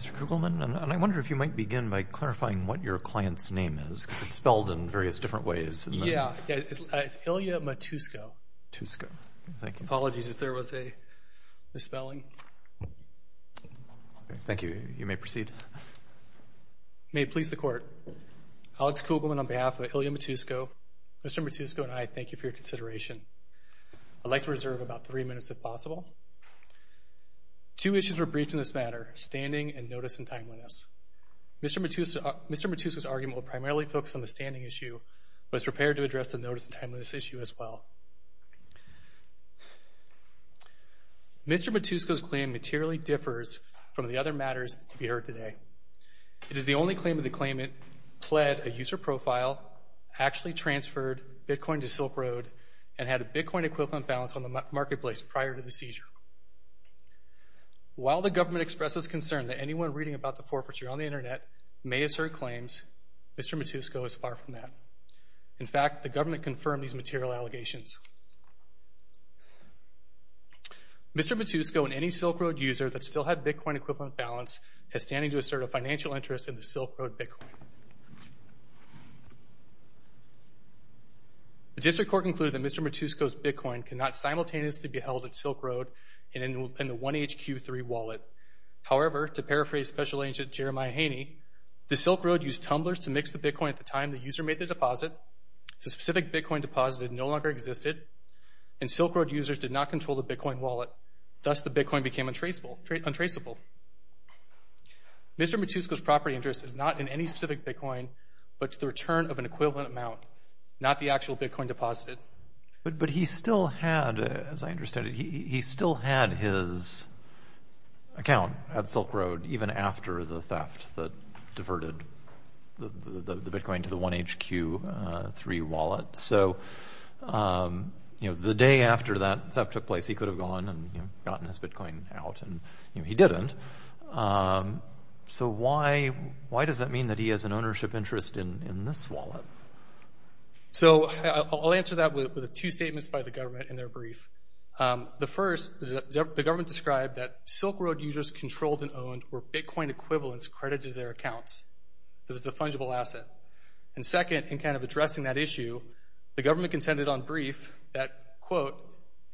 Mr. Kugelman, I wonder if you might begin by clarifying what your client's name is because it's spelled in various different ways. Yeah, it's Ilija Matusko. Matusko. Thank you. Apologies if there was a misspelling. Thank you. You may proceed. You may please the court. Alex Kugelman on behalf of Ilija Matusko. Mr. Matusko and I thank you for your consideration. I'd like to reserve about three minutes if possible. Two issues were briefed in this matter, standing and notice and timeliness. Mr. Matusko's argument will primarily focus on the standing issue, but is prepared to address the notice and timeliness issue as well. Mr. Matusko's claim materially differs from the other matters to be heard today. It is the only claim of the claimant pled a user profile, actually transferred Bitcoin to Silk Road, and had a Bitcoin equivalent balance on the marketplace prior to the seizure. While the government expresses concern that anyone reading about the forfeiture on the Internet may assert claims, Mr. Matusko is far from that. In fact, the government confirmed these material allegations. Mr. Matusko and any Silk Road user that still had Bitcoin equivalent balance has standing to assert a financial interest in the Silk Road Bitcoin. The district court concluded that Mr. Matusko's Bitcoin could not simultaneously be held at Silk Road in the 1HQ3 wallet. However, to paraphrase Special Agent Jeremiah Haney, the Silk Road used tumblers to mix the Bitcoin at the time the user made the deposit. The specific Bitcoin deposited no longer existed, and Silk Road users did not control the Bitcoin wallet. Thus, the Bitcoin became untraceable. Mr. Matusko's property interest is not in any specific Bitcoin, but to the return of an equivalent amount, not the actual Bitcoin deposited. But he still had, as I understand it, he still had his account at Silk Road even after the theft that diverted the Bitcoin to the 1HQ3 wallet. So, you know, the day after that theft took place, he could have gone and gotten his Bitcoin out, and he didn't. So why does that mean that he has an ownership interest in this wallet? So I'll answer that with two statements by the government in their brief. The first, the government described that Silk Road users controlled and owned were Bitcoin equivalents credited to their accounts because it's a fungible asset. And second, in kind of addressing that issue, the government contended on brief that, quote,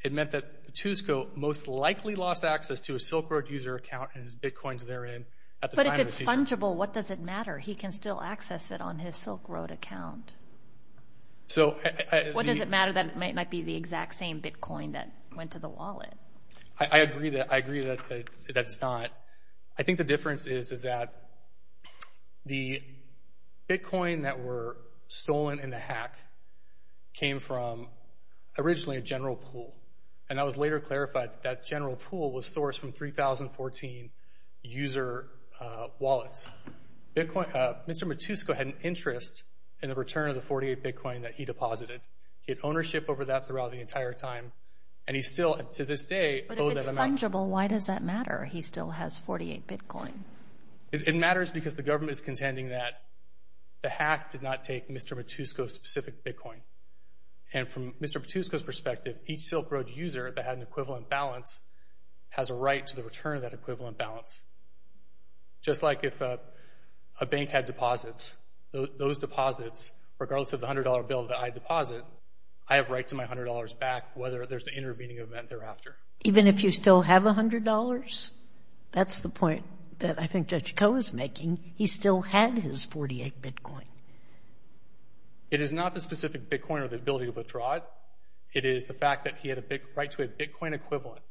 it meant that Matusko most likely lost access to a Silk Road user account and his Bitcoins therein at the time of the theft. If it's fungible, what does it matter? He can still access it on his Silk Road account. What does it matter that it might not be the exact same Bitcoin that went to the wallet? I agree that that's not. I think the difference is that the Bitcoin that were stolen in the hack came from originally a general pool. And I was later clarified that that general pool was sourced from 3014 user wallets. Mr. Matusko had an interest in the return of the 48 Bitcoin that he deposited. He had ownership over that throughout the entire time. And he still, to this day, owes that amount. But if it's fungible, why does that matter? He still has 48 Bitcoin. It matters because the government is contending that the hack did not take Mr. Matusko's specific Bitcoin. And from Mr. Matusko's perspective, each Silk Road user that had an equivalent balance has a right to the return of that equivalent balance. Just like if a bank had deposits, those deposits, regardless of the $100 bill that I deposit, I have right to my $100 back whether there's an intervening event thereafter. Even if you still have $100? That's the point that I think Judge Koh is making. He still had his 48 Bitcoin. It is not the specific Bitcoin or the ability to withdraw it. It is the fact that he had a right to a Bitcoin equivalent.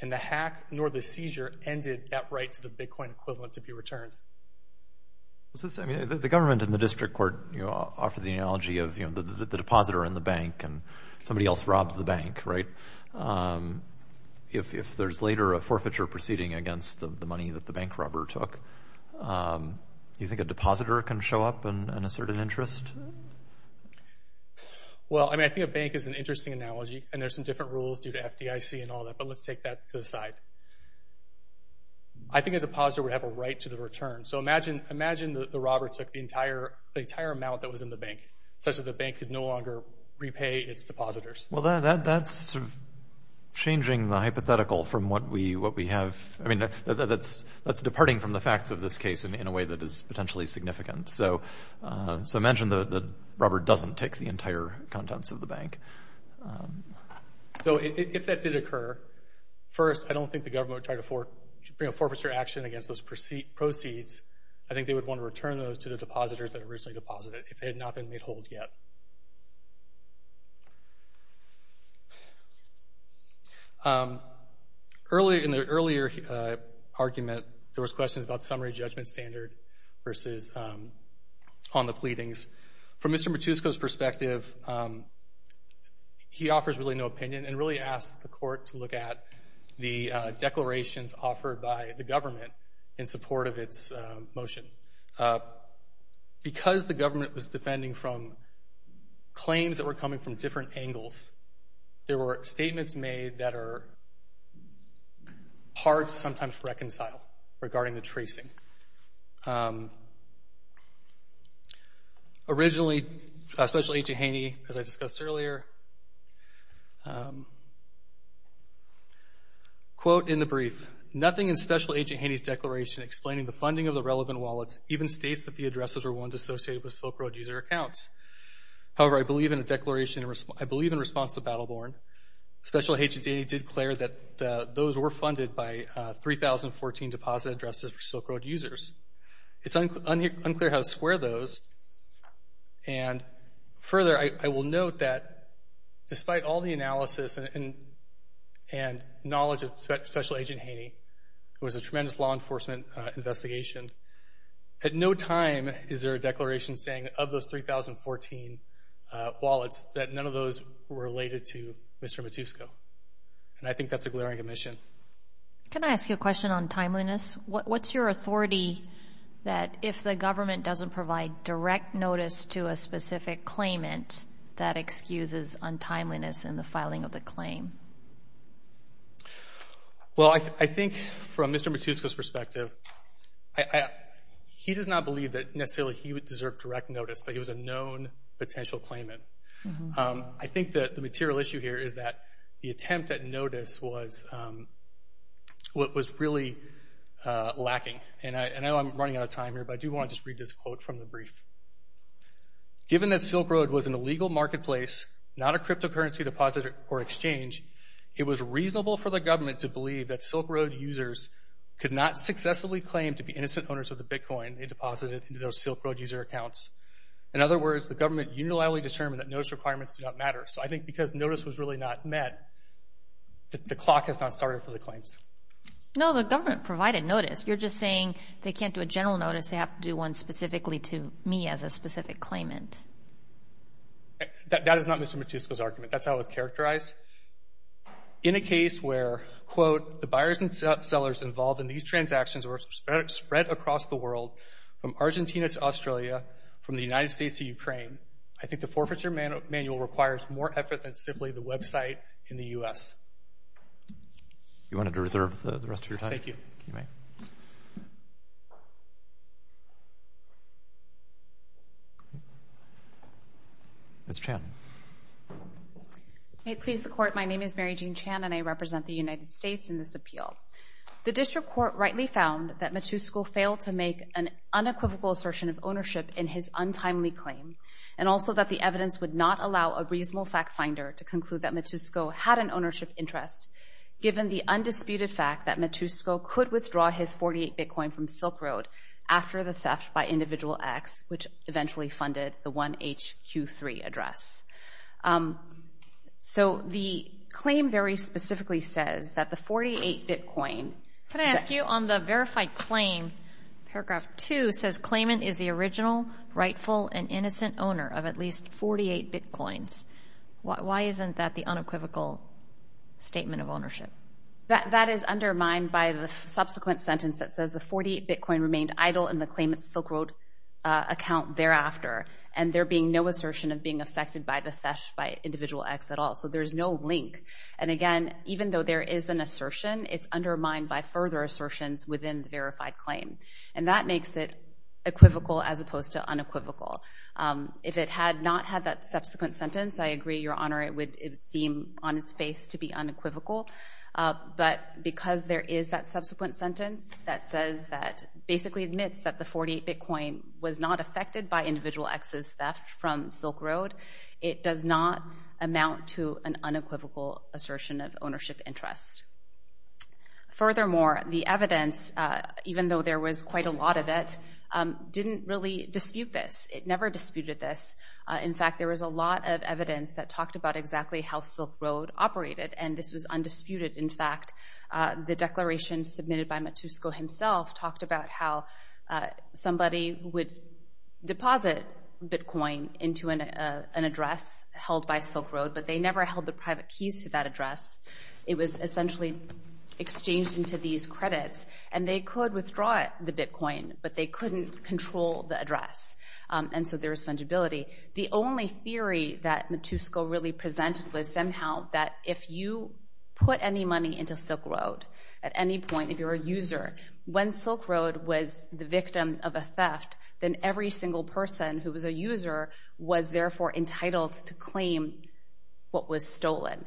And the hack nor the seizure ended that right to the Bitcoin equivalent to be returned. The government and the district court offered the analogy of the depositor in the bank and somebody else robs the bank, right? If there's later a forfeiture proceeding against the money that the bank robber took, do you think a depositor can show up in a certain interest? Well, I mean, I think a bank is an interesting analogy. And there's some different rules due to FDIC and all that, but let's take that to the side. I think a depositor would have a right to the return. So imagine the robber took the entire amount that was in the bank, such that the bank could no longer repay its depositors. Well, that's changing the hypothetical from what we have. I mean, that's departing from the facts of this case in a way that is potentially significant. So imagine the robber doesn't take the entire contents of the bank. So if that did occur, first, I don't think the government would try to bring a forfeiture action against those proceeds. I think they would want to return those to the depositors that originally deposited if they had not been made whole yet. In the earlier argument, there was questions about summary judgment standard versus on the pleadings. From Mr. Matusko's perspective, he offers really no opinion and really asked the court to look at the declarations offered by the government in support of its motion. Because the government was defending from claims that were coming from different angles, there were statements made that are hard to sometimes reconcile regarding the tracing. Originally, Special Agent Haney, as I discussed earlier, quote in the brief, nothing in Special Agent Haney's declaration explaining the funding of the relevant wallets even states that the addresses were ones associated with Silk Road user accounts. However, I believe in a declaration, I believe in response to Battle Born, Special Agent Haney did declare that those were funded by 3014 deposit addresses for Silk Road users. It's unclear how to square those. And further, I will note that despite all the analysis and knowledge of Special Agent Haney, it was a tremendous law enforcement investigation. At no time is there a declaration saying of those 3014 wallets that none of those were related to Mr. Matusko. And I think that's a glaring omission. Can I ask you a question on timeliness? What's your authority that if the government doesn't provide direct notice to a specific claimant, that excuses untimeliness in the filing of the claim? Well, I think from Mr. Matusko's perspective, he does not believe that necessarily he would deserve direct notice, that he was a known potential claimant. I think that the material issue here is that the attempt at notice was what was really lacking. And I know I'm running out of time here, but I do want to just read this quote from the brief. Given that Silk Road was an illegal marketplace, not a cryptocurrency deposit or exchange, it was reasonable for the government to believe that Silk Road users could not successfully claim to be innocent owners of the Bitcoin they deposited into those Silk Road user accounts. In other words, the government unilaterally determined that notice requirements did not matter. So I think because notice was really not met, the clock has not started for the claims. No, the government provided notice. You're just saying they can't do a general notice, they have to do one specifically to me as a specific claimant. That is not Mr. Matusko's argument. That's how it was characterized. In a case where, quote, the buyers and sellers involved in these transactions were spread across the world, from Argentina to Australia, from the United States to Ukraine, I think the forfeiture manual requires more effort than simply the website in the U.S. You wanted to reserve the rest of your time? Thank you. Ms. Chan. May it please the Court, my name is Mary Jean Chan and I represent the United States in this appeal. The district court rightly found that Matusko failed to make an unequivocal assertion of ownership in his untimely claim and also that the evidence would not allow a reasonable fact finder to conclude that Matusko had an ownership interest given the undisputed fact that Matusko could withdraw his 48 Bitcoin from Silk Road after the theft by Individual X, which eventually funded the 1HQ3 address. So the claim very specifically says that the 48 Bitcoin... Could I ask you, on the verified claim, paragraph 2 says, Claimant is the original rightful and innocent owner of at least 48 Bitcoins. Why isn't that the unequivocal statement of ownership? That is undermined by the subsequent sentence that says the 48 Bitcoin remained idle in the claimant's Silk Road account thereafter and there being no assertion of being affected by the theft by Individual X at all. So there's no link. And again, even though there is an assertion, it's undermined by further assertions within the verified claim. And that makes it equivocal as opposed to unequivocal. If it had not had that subsequent sentence, I agree, Your Honor, it would seem on its face to be unequivocal. But because there is that subsequent sentence that basically admits that the 48 Bitcoin was not affected by Individual X's theft from Silk Road, it does not amount to an unequivocal assertion of ownership interest. Furthermore, the evidence, even though there was quite a lot of it, didn't really dispute this. It never disputed this. In fact, there was a lot of evidence that talked about exactly how Silk Road operated, and this was undisputed. In fact, the declaration submitted by Matusko himself talked about how somebody would deposit Bitcoin into an address held by Silk Road, but they never held the private keys to that address. It was essentially exchanged into these credits. And they could withdraw the Bitcoin, but they couldn't control the address. And so there was fungibility. The only theory that Matusko really presented was somehow that if you put any money into Silk Road at any point, if you're a user, when Silk Road was the victim of a theft, then every single person who was a user was therefore entitled to claim what was stolen.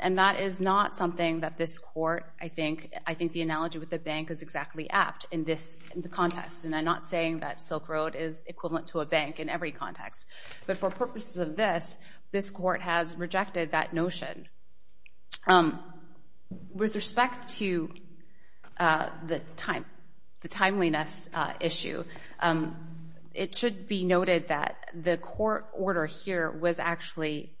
And that is not something that this Court, I think, I think the analogy with the bank is exactly apt in this context. And I'm not saying that Silk Road is equivalent to a bank in every context. But for purposes of this, this Court has rejected that notion. With respect to the timeliness issue, it should be noted that the court order here was actually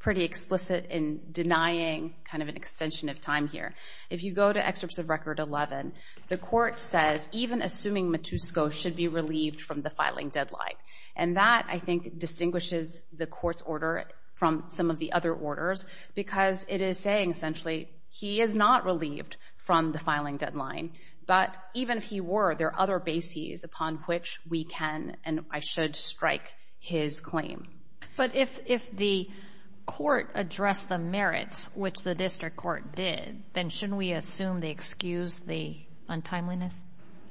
pretty explicit in denying kind of an extension of time here. If you go to Excerpts of Record 11, the court says even assuming Matusko should be relieved from the filing deadline. And that, I think, distinguishes the court's order from some of the other orders because it is saying essentially he is not relieved from the filing deadline. But even if he were, there are other bases upon which we can and I should strike his claim. But if the court addressed the merits, which the district court did, then shouldn't we assume they excused the untimeliness?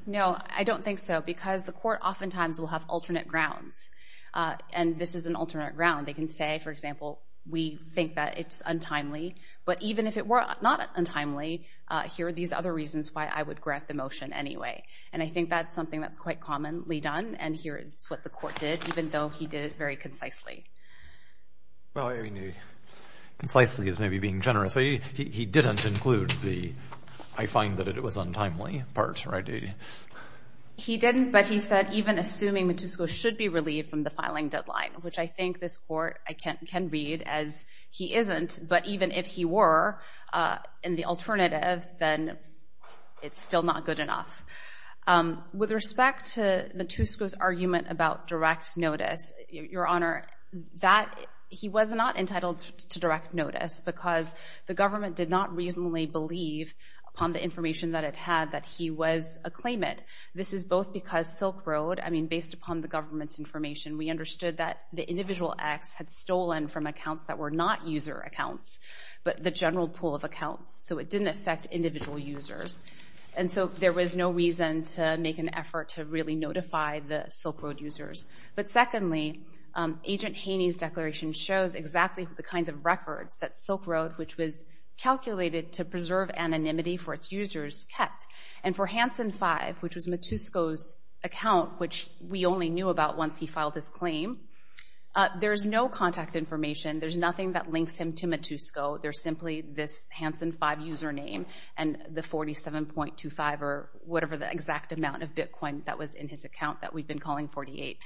No, I don't think so because the court oftentimes will have alternate grounds. And this is an alternate ground. They can say, for example, we think that it's untimely. But even if it were not untimely, here are these other reasons why I would grant the motion anyway. And I think that's something that's quite commonly done. And here is what the court did, even though he did it very concisely. Well, I mean, concisely is maybe being generous. He didn't include the I find that it was untimely part, right? He didn't, but he said even assuming Matusko should be relieved from the filing deadline, which I think this court can read as he isn't. But even if he were in the alternative, then it's still not good enough. With respect to Matusko's argument about direct notice, Your Honor, that he was not entitled to direct notice because the government did not reasonably believe upon the information that it had that he was a claimant. This is both because Silk Road, I mean, based upon the government's information, we understood that the individual acts had stolen from accounts that were not user accounts, but the general pool of accounts. So it didn't affect individual users. And so there was no reason to make an effort to really notify the Silk Road users. But secondly, Agent Haney's declaration shows exactly the kinds of records that Silk Road, which was calculated to preserve anonymity for its users, kept. And for Hanson 5, which was Matusko's account, which we only knew about once he filed his claim, there's no contact information. There's nothing that links him to Matusko. There's simply this Hanson 5 username and the 47.25 or whatever the exact amount of Bitcoin that was in his account that we've been calling 48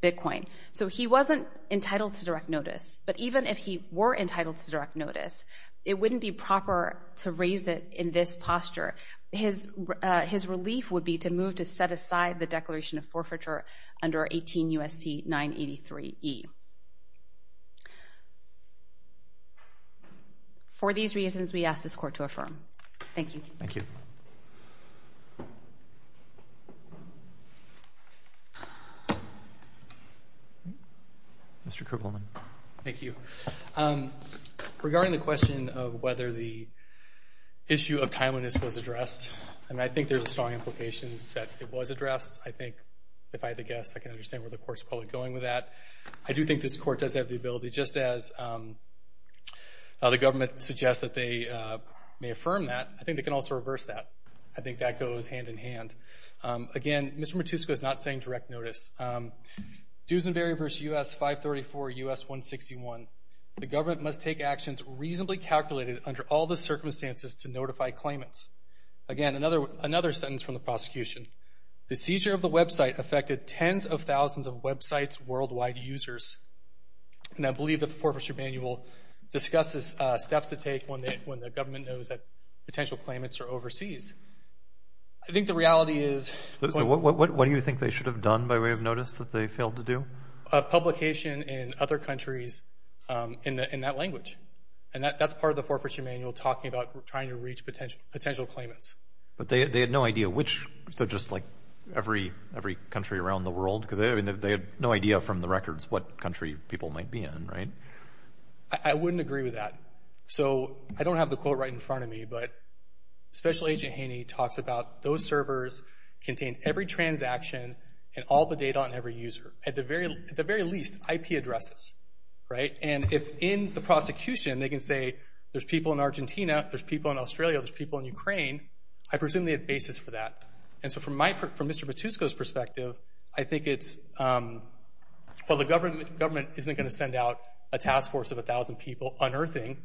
Bitcoin. So he wasn't entitled to direct notice. But even if he were entitled to direct notice, it wouldn't be proper to raise it in this posture. His relief would be to move to set aside the declaration of forfeiture under 18 U.S.C. 983E. For these reasons, we ask this court to affirm. Thank you. Thank you. Mr. Kruvelman. Thank you. Regarding the question of whether the issue of timeliness was addressed, and I think there's a strong implication that it was addressed. I think if I had to guess, I can understand where the court's probably going with that. I do think this court does have the ability, just as the government suggests that they may affirm that, I think they can also reverse that. I think that goes hand in hand. Again, Mr. Matusko is not saying direct notice. Duesenberry v. U.S. 534 U.S. 161. The government must take actions reasonably calculated under all the circumstances to notify claimants. Again, another sentence from the prosecution. The seizure of the website affected tens of thousands of website's worldwide users. And I believe that the Forfeiture Manual discusses steps to take when the government knows that potential claimants are overseas. I think the reality is. So what do you think they should have done by way of notice that they failed to do? Publication in other countries in that language. And that's part of the Forfeiture Manual talking about trying to reach potential claimants. But they had no idea which, so just like every country around the world? Because they had no idea from the records what country people might be in, right? I wouldn't agree with that. So I don't have the quote right in front of me, but Special Agent Haney talks about those servers contain every transaction and all the data on every user. At the very least, IP addresses, right? And if in the prosecution they can say there's people in Argentina, there's people in Australia, there's people in Ukraine, I presume they have a basis for that. And so from Mr. Matusko's perspective, I think it's. Well, the government isn't going to send out a task force of 1,000 people unearthing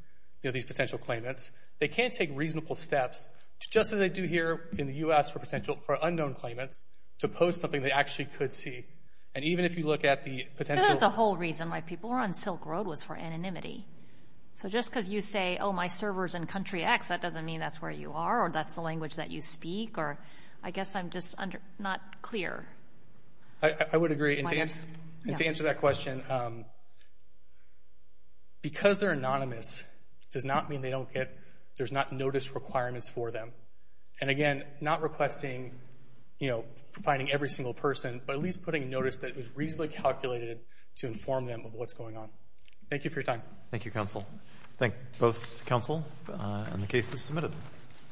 these potential claimants. They can't take reasonable steps just as they do here in the U.S. for potential for unknown claimants to post something they actually could see. And even if you look at the potential. It's not the whole reason why people were on Silk Road was for anonymity. So just because you say, oh, my server's in country X, that doesn't mean that's where you are or that's the language that you speak. I guess I'm just not clear. I would agree. And to answer that question, because they're anonymous does not mean they don't get. There's not notice requirements for them. And again, not requesting, you know, providing every single person, but at least putting a notice that was reasonably calculated to inform them of what's going on. Thank you for your time. Thank you, counsel. Thank both counsel and the cases submitted.